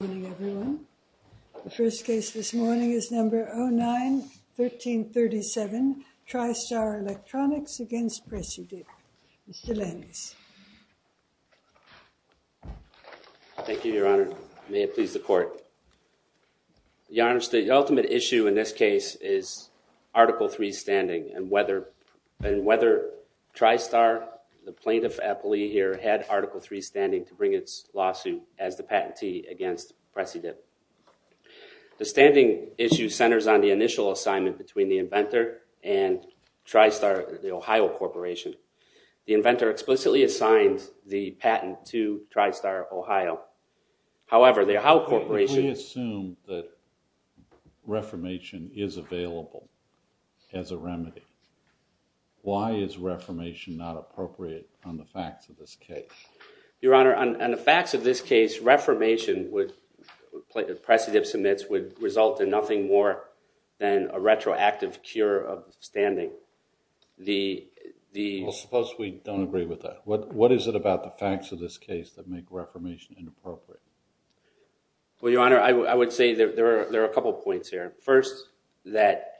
Good morning, everyone. The first case this morning is number 09-1337 Tri-Star Electronics v. Preci-Dip. Mr. Landis. Thank you, Your Honor. May it please the Court. Your Honor, the ultimate issue in this case is Article III standing and whether Tri-Star, the plaintiff appellee here, had Article III standing to bring its lawsuit as the patentee against Preci-Dip. The standing issue centers on the initial assignment between the inventor and Tri-Star, the Ohio Corporation. The inventor explicitly assigned the patent to Tri-Star, Ohio. However, the Ohio Corporation... If we assume that reformation is available as a remedy, why is reformation not appropriate on the facts of this case? Your Honor, on the facts of this case, reformation would... Preci-Dip submits would result in nothing more than a retroactive cure of standing. Well, suppose we don't agree with that. What is it about the facts of this case that make reformation inappropriate? Well, Your Honor, I would say there are a couple points here. First, that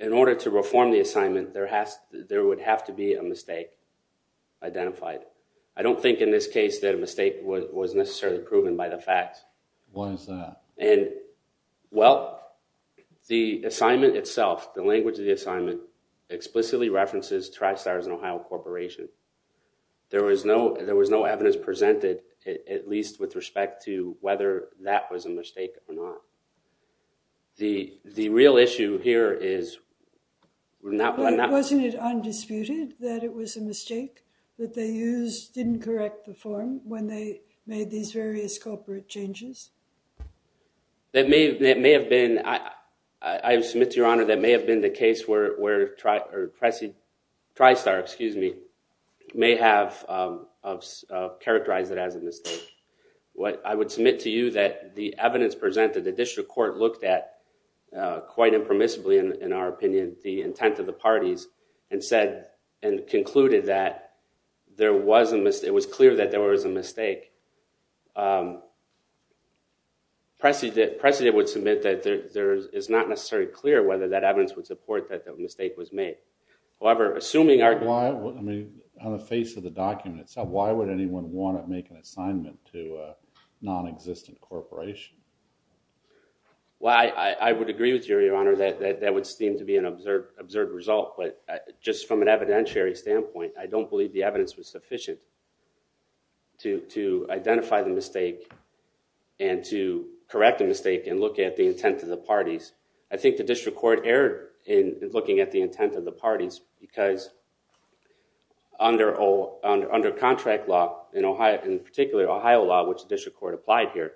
in order to reform the assignment, there would have to be a mistake identified. I don't think in this case that a mistake was necessarily proven by the facts. What is that? And, well, the assignment itself, the language of the assignment, explicitly references Tri-Star as an Ohio Corporation. There was no evidence presented, at least with respect to whether that was a mistake or not. The real issue here is... Wasn't it undisputed that it was a mistake that they used, didn't correct the form when they made these various corporate changes? That may have been... I submit to Your Honor that may have been the case where Tri-Star may have characterized it as a mistake. I would submit to you that the evidence presented, the district court looked at quite impermissibly, in our opinion, the intent of the parties and concluded that it was clear that there was a mistake. Precedent would submit that it's not necessarily clear whether that evidence would support that the mistake was made. However, assuming... On the face of the document itself, why would anyone want to make an assignment to a non-existent corporation? Well, I would agree with you, Your Honor, that that would seem to be an absurd result. But, just from an evidentiary standpoint, I don't believe the evidence was sufficient to identify the mistake and to correct the mistake and look at the intent of the parties. I think the district court erred in looking at the intent of the parties because under contract law, in particular Ohio law, which the district court applied here,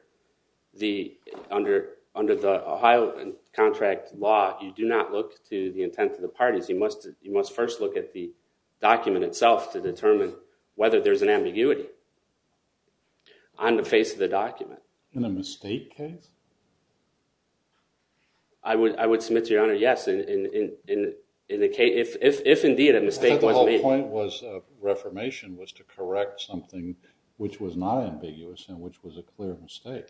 under the Ohio contract law, you do not look to the intent of the parties. You must first look at the document itself to determine whether there's an ambiguity on the face of the document. In a mistake case? I would submit to Your Honor, yes, if indeed a mistake was made. I thought the whole point of Reformation was to correct something which was not ambiguous and which was a clear mistake.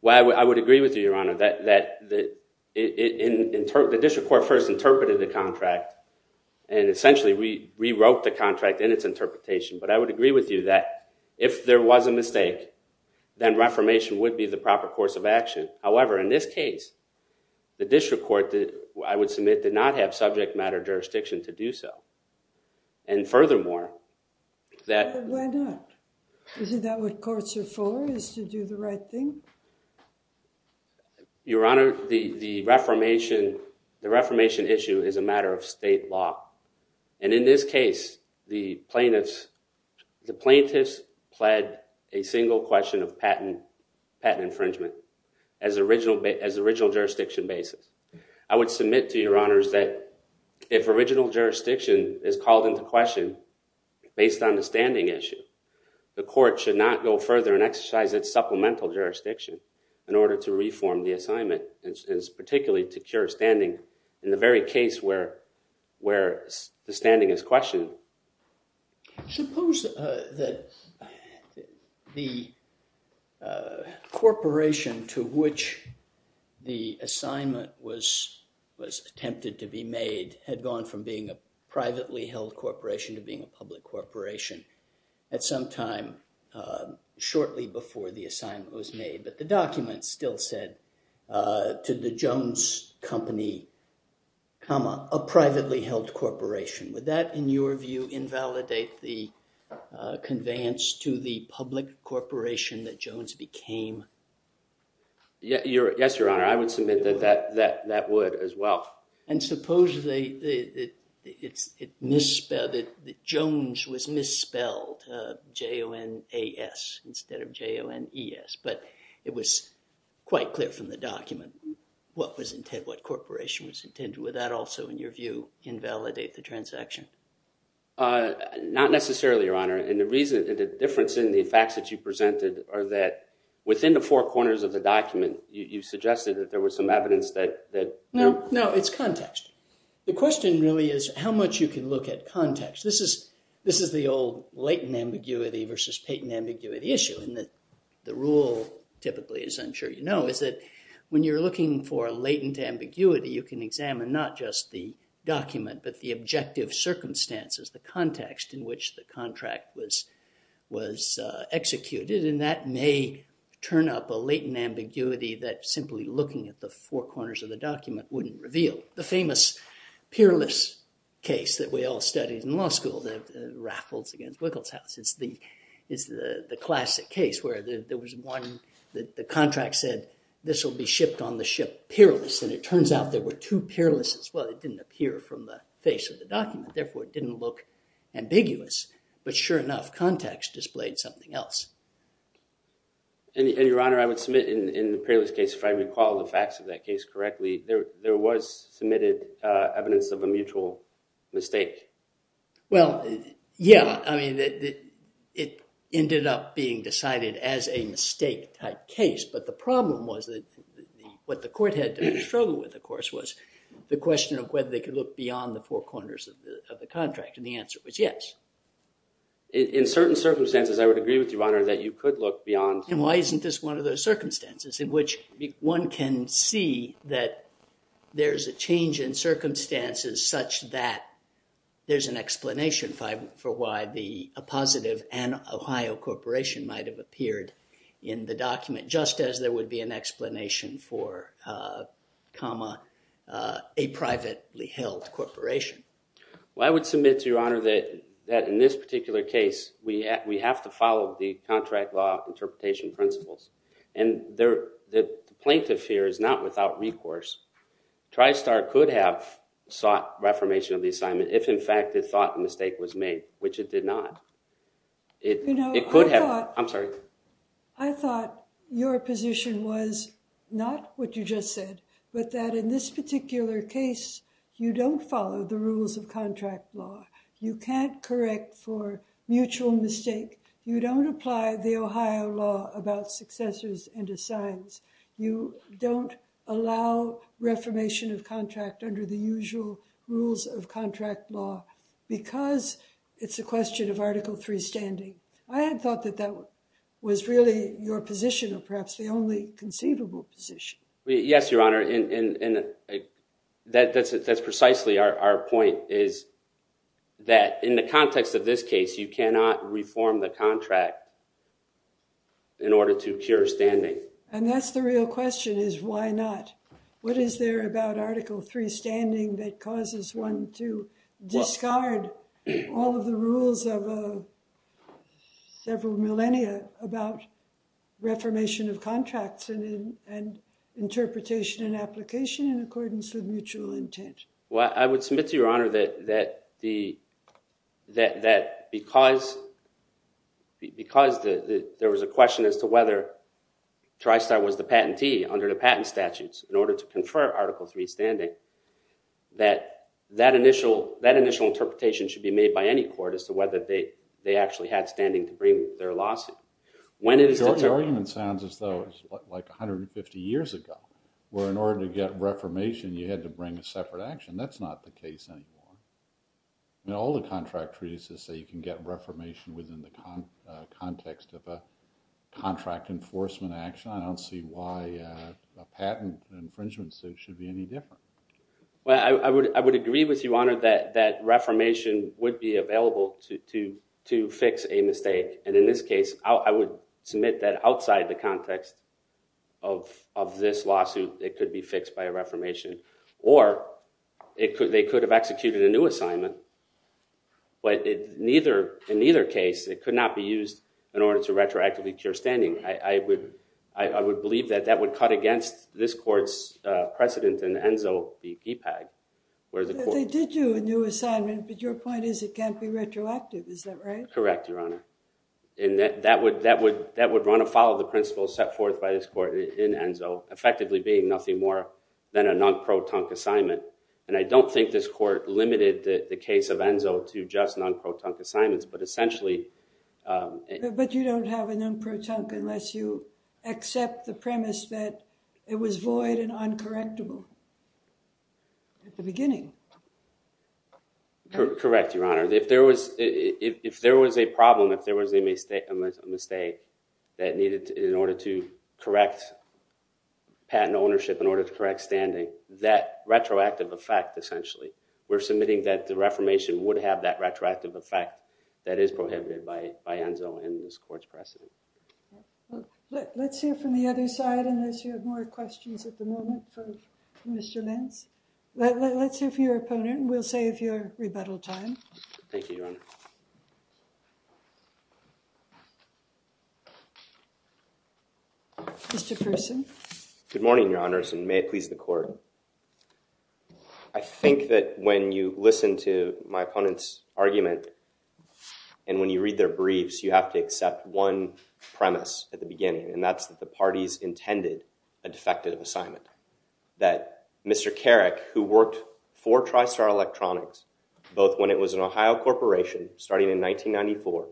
Well, I would agree with you, Your Honor, that the district court first interpreted the contract and essentially rewrote the contract in its interpretation. But I would agree with you that if there was a mistake, then Reformation would be the proper course of action. However, in this case, the district court, I would submit, did not have subject matter jurisdiction to do so. And furthermore, that... Why not? Isn't that what courts are for, is to do the right thing? Your Honor, the Reformation issue is a matter of state law. And in this case, the plaintiffs pled a single question of patent infringement as original jurisdiction basis. I would submit to Your Honors that if original jurisdiction is called into question based on the standing issue, the court should not go further and exercise its supplemental jurisdiction in order to reform the assignment, particularly to cure standing in the very case where the standing is questioned. Suppose that the corporation to which the assignment was attempted to be made had gone from being a privately held corporation to being a public corporation at some time shortly before the assignment was made. But the document still said, to the Jones Company, a privately held corporation. Would that, in your view, invalidate the conveyance to the public corporation that Jones became? Yes, Your Honor. I would submit that that would as well. And suppose that Jones was misspelled, J-O-N-A-S, instead of J-O-N-E-S. But it was quite clear from the document what corporation was intended. Would that also, in your view, invalidate the transaction? Not necessarily, Your Honor. And the difference in the facts that you presented are that within the four corners of the document, you suggested that there was some evidence that... No, it's context. The question really is how much you can look at context. This is the old latent ambiguity versus patent ambiguity issue. And the rule, typically, as I'm sure you know, is that when you're looking for a latent ambiguity, you can examine not just the document, but the objective circumstances, the context in which the contract was executed. And that may turn up a latent ambiguity that simply looking at the four corners of the document wouldn't reveal. The famous peerless case that we all studied in law school, the raffles against Wiggles House, is the classic case where the contract said, this will be shipped on the ship peerless. And it turns out there were two peerlesses. Well, it didn't appear from the face of the document. Therefore, it didn't look ambiguous. But sure enough, context displayed something else. And, Your Honor, I would submit in the peerless case, if I recall the facts of that case correctly, there was submitted evidence of a mutual mistake. Well, yeah. I mean, it ended up being decided as a mistake type case. But the problem was that what the court had to struggle with, of course, was the question of whether they could look beyond the four corners of the contract. And the answer was yes. In certain circumstances, I would agree with you, Your Honor, that you could look beyond. And why isn't this one of those circumstances in which one can see that there's a change in circumstances such that there's an explanation for why the appositive and Ohio Corporation might have appeared in the document, just as there would be an explanation for, a privately held corporation. Well, I would submit to Your Honor that in this particular case, we have to follow the contract law interpretation principles. And the plaintiff here is not without recourse. TriStar could have sought reformation of the assignment if, in fact, it thought the mistake was made, which it did not. You know, I thought your position was not what you just said, but that in this particular case, you don't follow the rules of contract law. You can't correct for mutual mistake. You don't apply the Ohio law about successors and assigns. You don't allow reformation of contract under the usual rules of contract law because it's a question of Article III standing. I had thought that that was really your position, or perhaps the only conceivable position. Yes, Your Honor. That's precisely our point, is that in the context of this case, you cannot reform the contract in order to cure standing. And that's the real question, is why not? What is there about Article III standing that causes one to discard all of the rules of several millennia about reformation of contracts and interpretation and application in accordance with mutual intent? Well, I would submit to Your Honor that because there was a question as to whether Tristar was the patentee under the patent statutes in order to confer Article III standing, that that initial interpretation should be made by any court as to whether they actually had standing to bring their lawsuit. Your argument sounds as though it was like 150 years ago, where in order to get reformation, you had to bring a separate action. That's not the case anymore. In all the contract treaties that say you can get reformation within the context of a contract enforcement action, I don't see why a patent infringement suit should be any different. Well, I would agree with you, Your Honor, that reformation would be available to fix a mistake. And in this case, I would submit that outside the context of this lawsuit, it could be fixed by a reformation. Or, they could have executed a new assignment, but in neither case, it could not be used in order to retroactively cure standing. I would believe that that would cut against this court's precedent in ENZO. They did do a new assignment, but your point is it can't be retroactive, is that right? Correct, Your Honor. That would run afoul of the principles set forth by this court in ENZO, effectively being nothing more than a non-pro-tunk assignment. And I don't think this court limited the case of ENZO to just non-pro-tunk assignments, but essentially... But you don't have a non-pro-tunk unless you accept the premise that it was void and uncorrectable at the beginning. Correct, Your Honor. If there was a problem, if there was a mistake that needed, in order to get an ownership, in order to correct standing, that retroactive effect, essentially. We're submitting that the reformation would have that retroactive effect that is prohibited by ENZO and this court's precedent. Let's hear from the other side, unless you have more questions at the moment from Mr. Lentz. Let's hear from your opponent, and we'll save your rebuttal time. Thank you, Your Honor. Mr. Fersen. Good morning, Your Honors, and may it please the Court. I think that when you listen to my opponent's argument, and when you read their briefs, you have to accept one premise at the beginning, and that's that the parties intended a defective assignment. That Mr. Carrick, who worked for TriStar Electronics, started in 1994,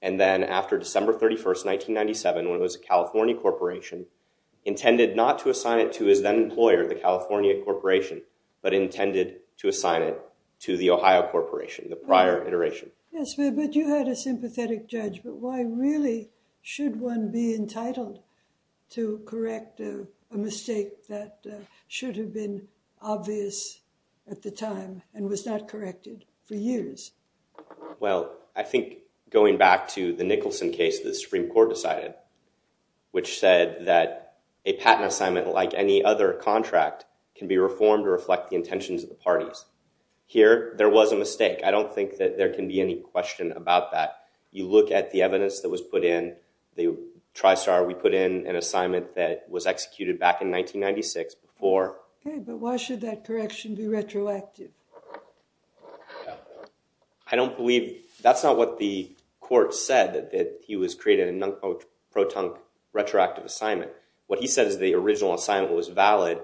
and then after December 31st, 1997, when it was a California corporation, intended not to assign it to his then-employer, the California Corporation, but intended to assign it to the Ohio Corporation, the prior iteration. Yes, but you had a sympathetic judgment. Why really should one be entitled to correct a mistake that should have been obvious at the time, and was not corrected for years? Well, I think going back to the Nicholson case, the Supreme Court decided, which said that a patent assignment, like any other contract, can be reformed or reflect the intentions of the parties. Here, there was a mistake. I don't think that there can be any question about that. You look at the evidence that was put in, TriStar, we put in an assignment that was executed back in 1996 before. Okay, but why should that correction be retroactive? I don't believe, that's not what the court said, that he was creating a pro-tunk retroactive assignment. What he said is the original assignment was valid,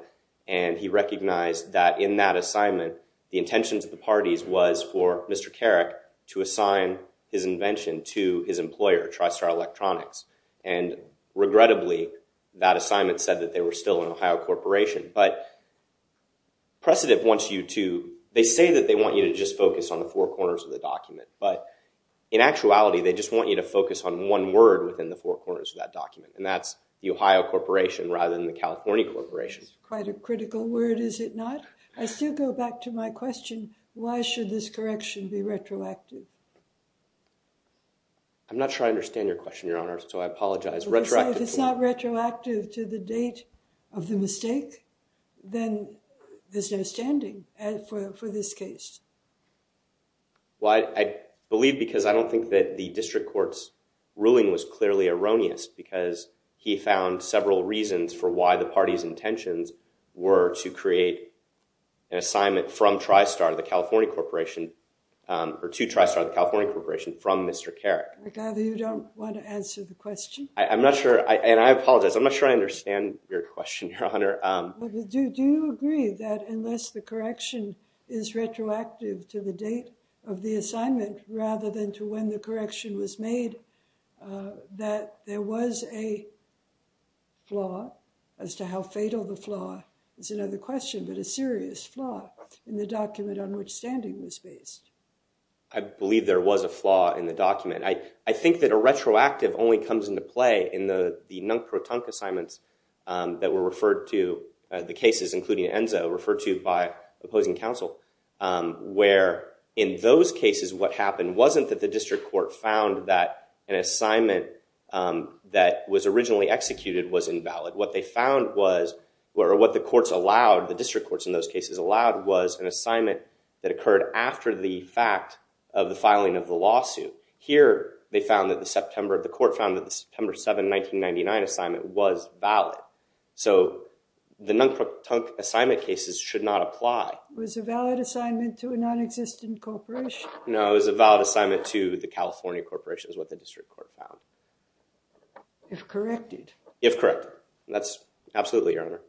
and he recognized that in that assignment, the intentions of the parties was for Mr. Carrick to assign his invention to his employer, TriStar Electronics, and regrettably, that assignment said that they were still an Ohio corporation, but Precedent wants you to, they say that they want you to just focus on the four corners of the document, but in actuality, they just want you to focus on one word within the four corners of that document, and that's the Ohio corporation, rather than the California corporation. That's quite a critical word, is it not? I still go back to my question, why should this correction be retroactive? I'm not sure I understand your question, Your Honor, so I apologize. If it's not retroactive to the date of the mistake, then there's no standing for this case. Well, I believe because I don't think that the district court's ruling was clearly erroneous, because he found several reasons for why the party's intentions were to create an assignment from TriStar, the California corporation, or to TriStar, the California corporation, from Mr. Carrick. I gather you don't want to answer the question. I'm not sure, and I apologize, I'm not sure I understand your question, Your Honor. Do you agree that unless the correction is retroactive to the date of the assignment rather than to when the correction was made, that there was a flaw, as to how fatal the flaw is another question, but a serious flaw in the document on which standing was based? I believe there was a flaw in the document. I think that a retroactive only comes into play in the Protunk assignments that were referred to, the cases including Enzo, referred to by opposing counsel, where in those cases what happened wasn't that the district court found that an assignment that was originally executed was invalid. What they found was, or what the courts allowed, the district courts in those cases allowed, was an assignment that occurred after the fact of the filing of the lawsuit. Here, they found that the September, the court found that the September 7, 1999 assignment was valid. So the non-Protunk assignment cases should not apply. Was a valid assignment to a non-existent corporation? No, it was a valid assignment to the California corporation, is what the district court found. If corrected? If corrected. That's absolutely, Your Honor.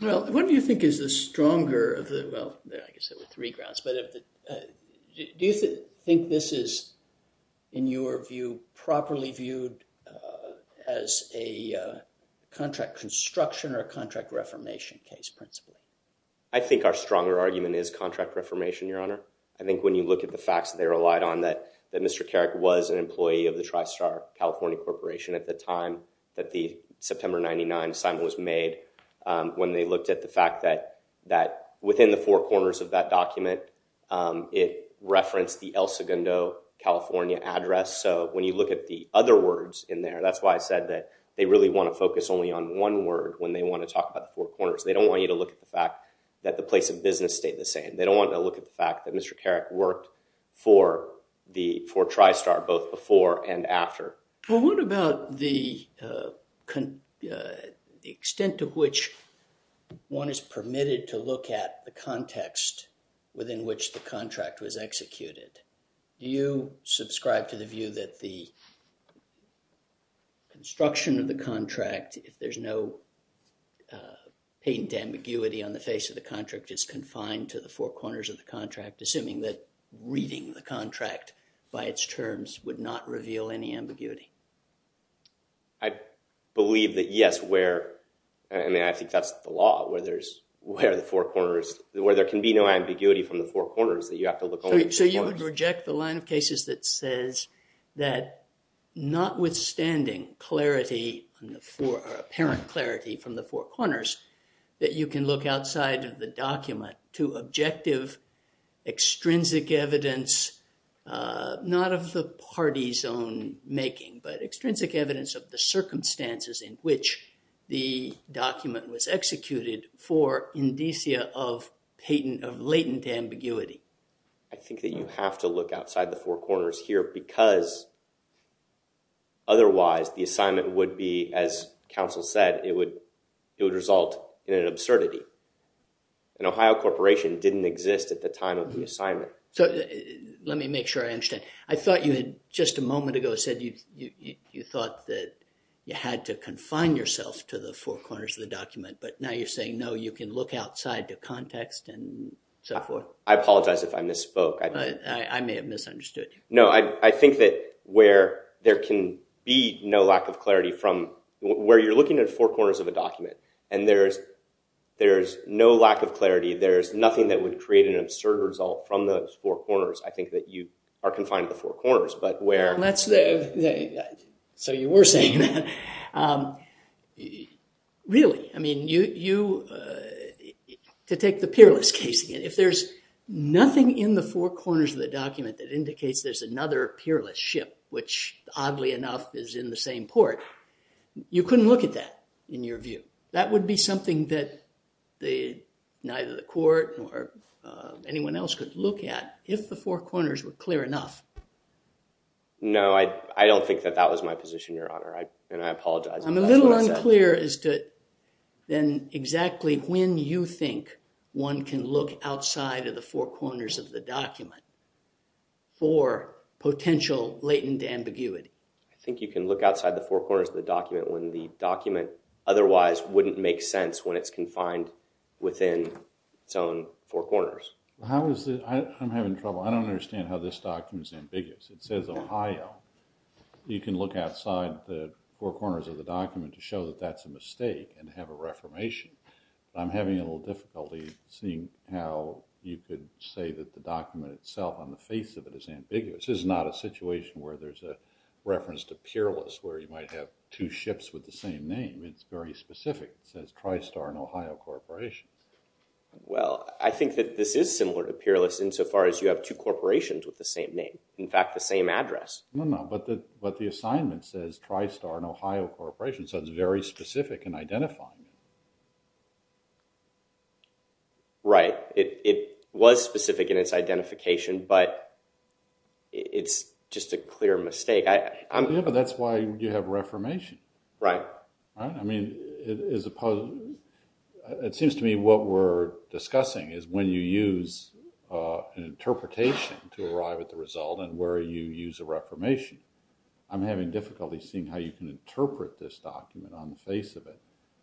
Well, what do you think is the stronger of the, well, I guess there were three grounds, but do you think this is, in your view, properly viewed as a contract construction or a contract reformation case, principally? I think our stronger argument is contract reformation, Your Honor. I think when you look at the facts that they relied on, that Mr. Carrick was an employee of the TriStar California corporation at the time that the September, 1999 assignment was made, when they looked at the fact that within the four corners of that document, it referenced the El Segundo California address. So when you look at the other words in there, that's why I said that they really want to focus only on one word when they want to talk about the four corners. They don't want you to look at the fact that the place of business stayed the same. They don't want to look at the fact that Mr. Carrick worked for TriStar both before and after. Well, what about the extent to which one is permitted to look at the context within which the contract was executed? Do you subscribe to the view that the construction of the contract, if there's no patent ambiguity on the face of the contract is confined to the four corners of the contract, assuming that reading the contract by its terms would not reveal any ambiguity? I believe that yes, where and I think that's the law, where there's, where the four corners, where there can be no ambiguity from the four corners that you have to look only at the four corners. So you would reject the line of cases that says that notwithstanding clarity, apparent clarity from the four corners that you can look outside of the document to objective extrinsic evidence, not of the party's own making, but extrinsic evidence of the circumstances in which the document was executed for indicia of latent ambiguity. I think that you have to look outside the four corners here because otherwise the assignment would be, as counsel said, it would result in an absurdity. An Ohio corporation didn't exist at the time of the assignment. So, let me make sure I understand. I thought you had just a moment ago said you thought that you had to confine yourself to the four corners of the document but now you're saying no, you can look outside the context and so forth. I apologize if I misspoke. I may have misunderstood you. No, I think that where there can be no lack of clarity from where you're looking at four corners of a document and there's no lack of clarity, there's nothing that would create an absurd result from those four corners. I think that you are confined to the four corners, but where So you were saying Really, I mean, you to take the peerless case again, if there's nothing in the four corners of the document that indicates there's another peerless ship which, oddly enough, is in the same port, you couldn't look at that in your view. That would be something that neither the court nor anyone else could look at if the four corners were clear enough. No, I don't think that that was my position, your honor, and I apologize. I'm a little unclear as to then exactly when you think one can look outside of the four corners of the document for potential latent ambiguity. I think you can look outside the four corners of the document when the document otherwise wouldn't make sense when it's confined within its own four corners. I'm having trouble. I don't understand how this document is ambiguous. It says Ohio. You can look outside the four corners of the document to show that that's a mistake and have a reformation. I'm having a little difficulty seeing how you could say that the document itself on the face of it is ambiguous. This is not a situation where there's a reference to peerless where you might have two ships with the same name. It's very specific. It says TriStar and Ohio Corporation. Well, I think that this is similar to peerless insofar as you have two ships with the same address. No, no, but the assignment says TriStar and Ohio Corporation, so it's very specific in identifying it. Right. It was specific in its identification, but it's just a clear mistake. Yeah, but that's why you have reformation. Right. I mean, it seems to me what we're discussing is when you use an interpretation to arrive at the result and where you use a reformation. I'm having difficulty seeing how you can interpret this document on the face of it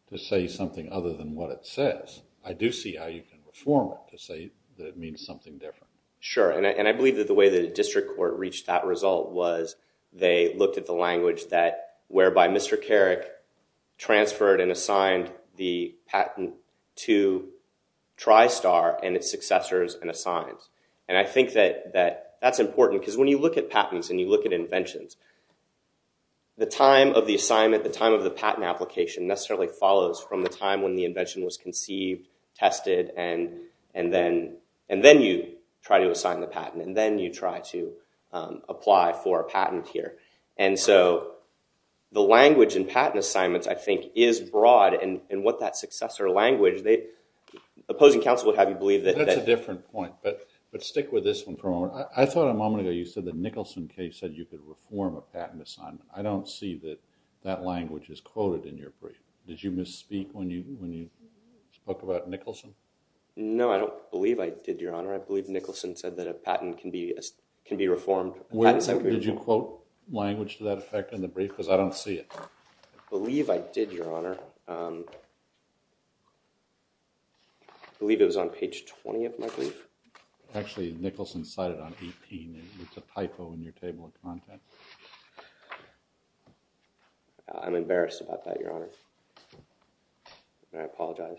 to say something other than what it says. I do see how you can reform it to say that it means something different. Sure, and I believe that the way the district court reached that result was they looked at the language that whereby Mr. Carrick transferred and assigned the patent to TriStar and its successors and assigned. And I think that that's important, because when you look at patents and you look at inventions, the time of the assignment, the time of the patent application necessarily follows from the time when the invention was conceived, tested, and then you try to assign the patent, and then you try to apply for a patent here. And so, the language in patent assignments, I think, is broad, and what that successor language, opposing counsel would have you believe that... That's a different point, but stick with this one for a moment. I thought a moment ago you said that Nicholson case said you could reform a patent assignment. I don't see that that language is quoted in your brief. Did you misspeak when you spoke about Nicholson? No, I don't believe I did, Your Honor. I believe Nicholson said that a patent can be reformed. Did you quote language to that effect in the brief? Because I don't see it. I believe I did, Your Honor. I believe it was on page 20 of my brief. Actually, Nicholson cited on E.P. It's a typo in your table of contents. I'm embarrassed about that, Your Honor. And I apologize.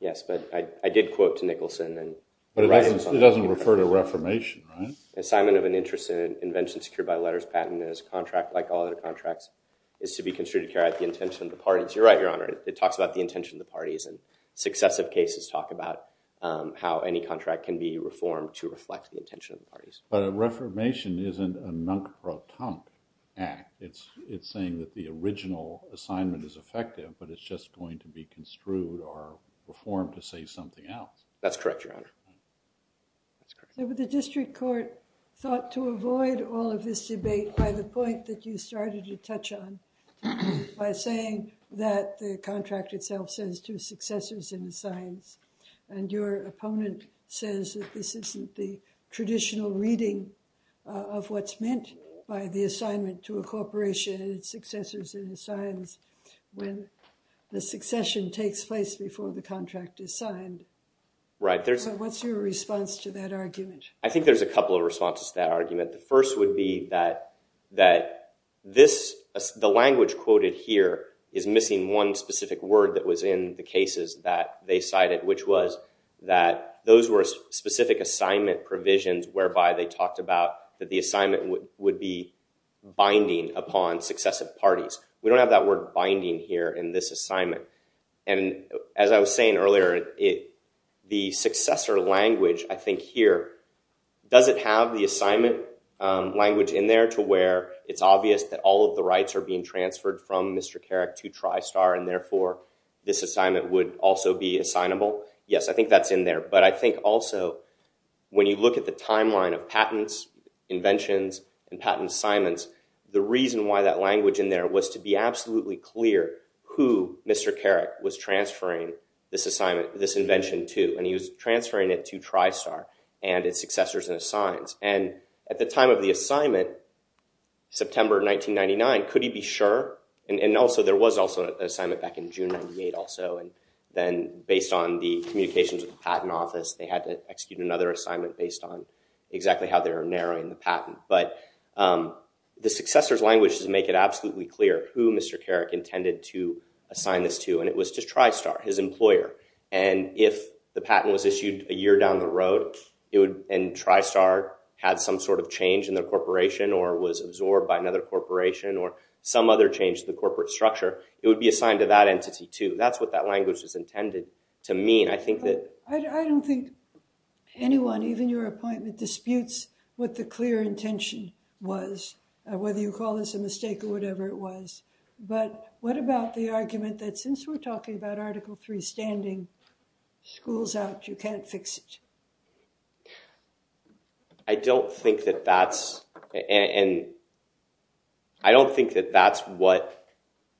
Yes, but I did quote to Nicholson. But it doesn't refer to reformation, right? Assignment of an interest in an invention secured by letters patent is to be construed to carry out the intention of the parties. You're right, Your Honor. It talks about the intention of the parties. Successive cases talk about how any contract can be reformed to reflect the intention of the parties. But a reformation isn't a nunk-or-tunk act. It's saying that the original assignment is effective, but it's just going to be construed or reformed to say something else. That's correct, Your Honor. The district court thought to avoid all of this debate by the point that you started to touch on. By saying that the contract itself says two successors in the signs. And your opponent says that this isn't the traditional reading of what's meant by the assignment to a corporation and its successors in the signs when the succession takes place before the contract is signed. Right. So what's your response to that argument? I think there's a couple of responses to that argument. The first would be that the language quoted here is missing one specific word that was in the cases that they cited, which was that those were specific assignment provisions whereby they talked about that the assignment would be binding upon successive parties. We don't have that word binding here in this assignment. And as I was saying earlier, the successor language I think here, does it have the assignment language in there to where it's obvious that all of the rights are being transferred from Mr. Carrick to TriStar and therefore this assignment would also be assignable? Yes, I think that's in there. But I think also when you look at the timeline of patents, inventions, and patent assignments, the reason why that language in there was to be absolutely clear who Mr. Carrick was transferring this assignment, this invention to. And he was transferring it to TriStar and its successors and assigns. And at the time of the assignment, September 1999, could he be sure? And also there was also an assignment back in June 1998 also. And then based on the communications with the patent office, they had to execute another assignment based on exactly how they were narrowing the patent. But the successor's language does make it absolutely clear who Mr. Carrick intended to assign this to. And it was to TriStar, his employer. And if the patent was issued a year down the road and TriStar had some sort of change in their corporation or was absorbed by another corporation or some other change in the corporate structure, it would be assigned to that entity too. That's what that language was intended to mean. I don't think anyone, even your appointment, disputes what the clear intention was. Whether you call this a mistake or whatever it was. But what about the argument that since we're talking about Article 3 standing schools out, you can't fix it? I don't think that that's what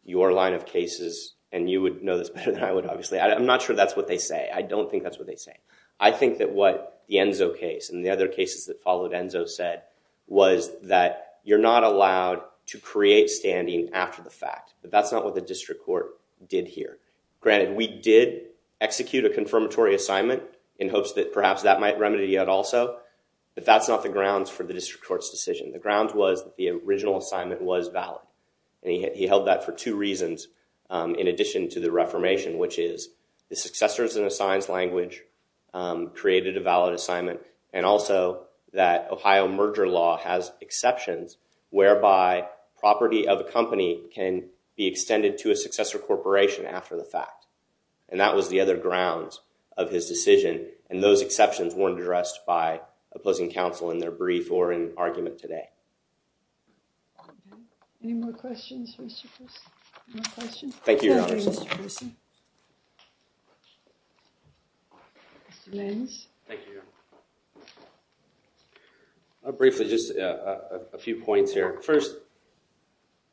your line of cases, and you would know this better than I would obviously, I'm not sure that's what they say. I don't think that's what they say. I think that what the Enzo case and the other cases that followed Enzo said was that you're not allowed to create standing after the fact. But that's not what the district court did here. Granted, we did execute a confirmatory assignment in hopes that perhaps that might remedy it also. But that's not the grounds for the district court's decision. The grounds was that the original assignment was valid. And he held that for two reasons in addition to the reformation, which is the successors and assigns language created a valid assignment and also that Ohio merger law has exceptions whereby property of a company can be extended to a successor corporation after the fact. And that was the other grounds of his decision. And those exceptions weren't addressed by opposing counsel in their brief or in argument today. Any more questions, Mr. Chris? Thank you, Your Honor. Mr. Lenz? Briefly, just a few points here. First,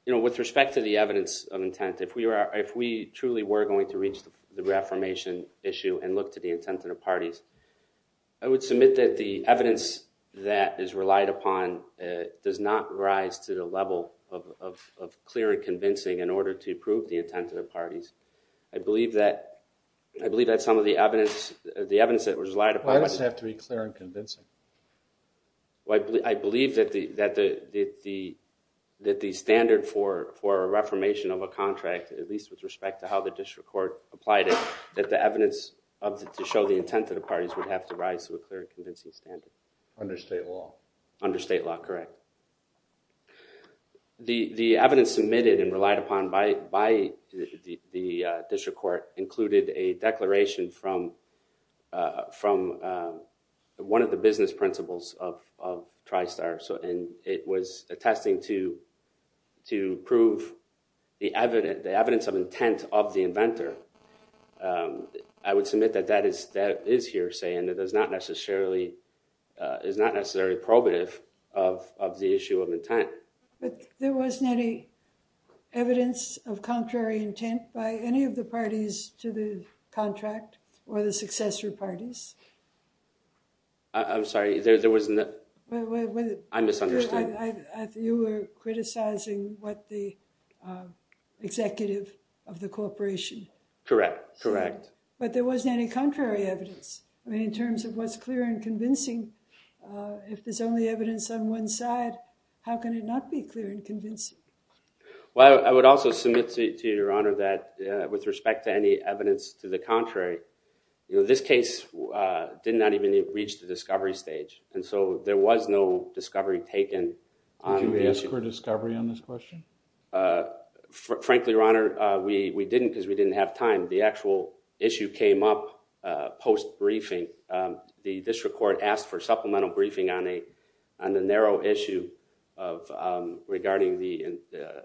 with respect to the evidence of intent, if we truly were going to reach the reformation issue and look to the intent of the parties, I would submit that the evidence that is relied upon does not rise to the level of clear and convincing in order to prove the intent of the parties. I believe that some of the evidence that was relied upon... Why does it have to be clear and convincing? I believe that the standard for a reformation of a contract, at least with respect to how the district court applied it, that the evidence to show the intent of the parties would have to rise to a clear and convincing standard. Under state law. Under state law, correct. The evidence submitted and relied upon by the district court included a statement from one of the business principals of TriStar. It was attesting to prove the evidence of intent of the inventor. I would submit that that is here saying that it is not necessarily probative of the issue of intent. But there wasn't any evidence of contrary intent by any of the parties to the intent of the parties. I'm sorry? I misunderstood. You were criticizing the executive of the corporation. Correct. But there wasn't any contrary evidence. In terms of what's clear and convincing, if there's only evidence on one side, how can it not be clear and convincing? I would also submit to Your Honor that with respect to any evidence to the contrary, we did not even reach the discovery stage. There was no discovery taken. Did you ask for discovery on this question? Frankly, Your Honor, we didn't because we didn't have time. The actual issue came up post-briefing. The district court asked for supplemental briefing on the narrow issue regarding the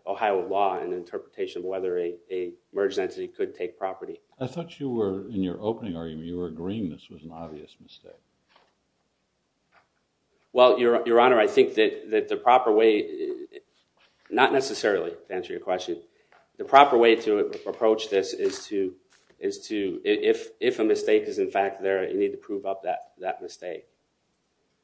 Ohio law and interpretation of whether a merged entity could take property. I thought you were, in your opening argument, you were agreeing this was an obvious mistake. Well, Your Honor, I think that the proper way, not necessarily to answer your question, the proper way to approach this is to if a mistake is in fact there, you need to prove up that mistake.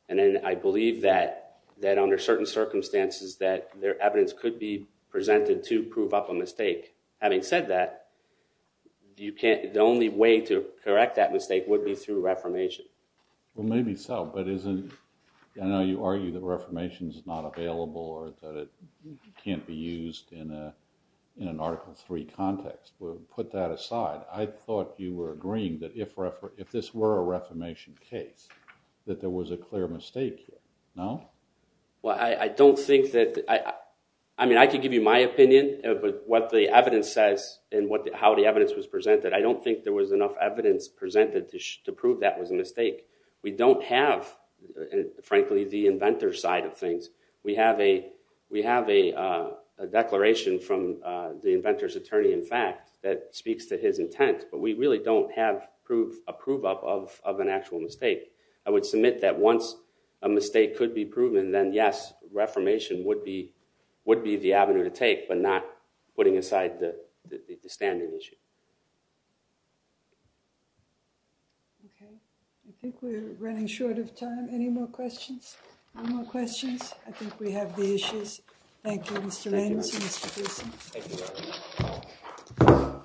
And I believe that under certain circumstances that there evidence could be presented to prove up a mistake. Having said that, the only way to correct that mistake would be through reformation. Well, maybe so, but isn't I know you argue that reformation is not available or that it can't be used in an Article III context. Put that aside, I thought you were agreeing that if this were a reformation case, that there was a clear mistake here. No? Well, I don't think that, I mean, I can give you my own sense in how the evidence was presented. I don't think there was enough evidence presented to prove that was a mistake. We don't have frankly, the inventor's side of things. We have a declaration from the inventor's attorney, in fact, that speaks to his intent, but we really don't have a prove up of an actual mistake. I would submit that once a mistake could be proven, then yes, reformation would be the avenue to take but not putting aside the standard issue. Okay, I think we're running short of time. Any more questions? I think we have the issues. Thank you, Mr. Landers and Mr. Gleason.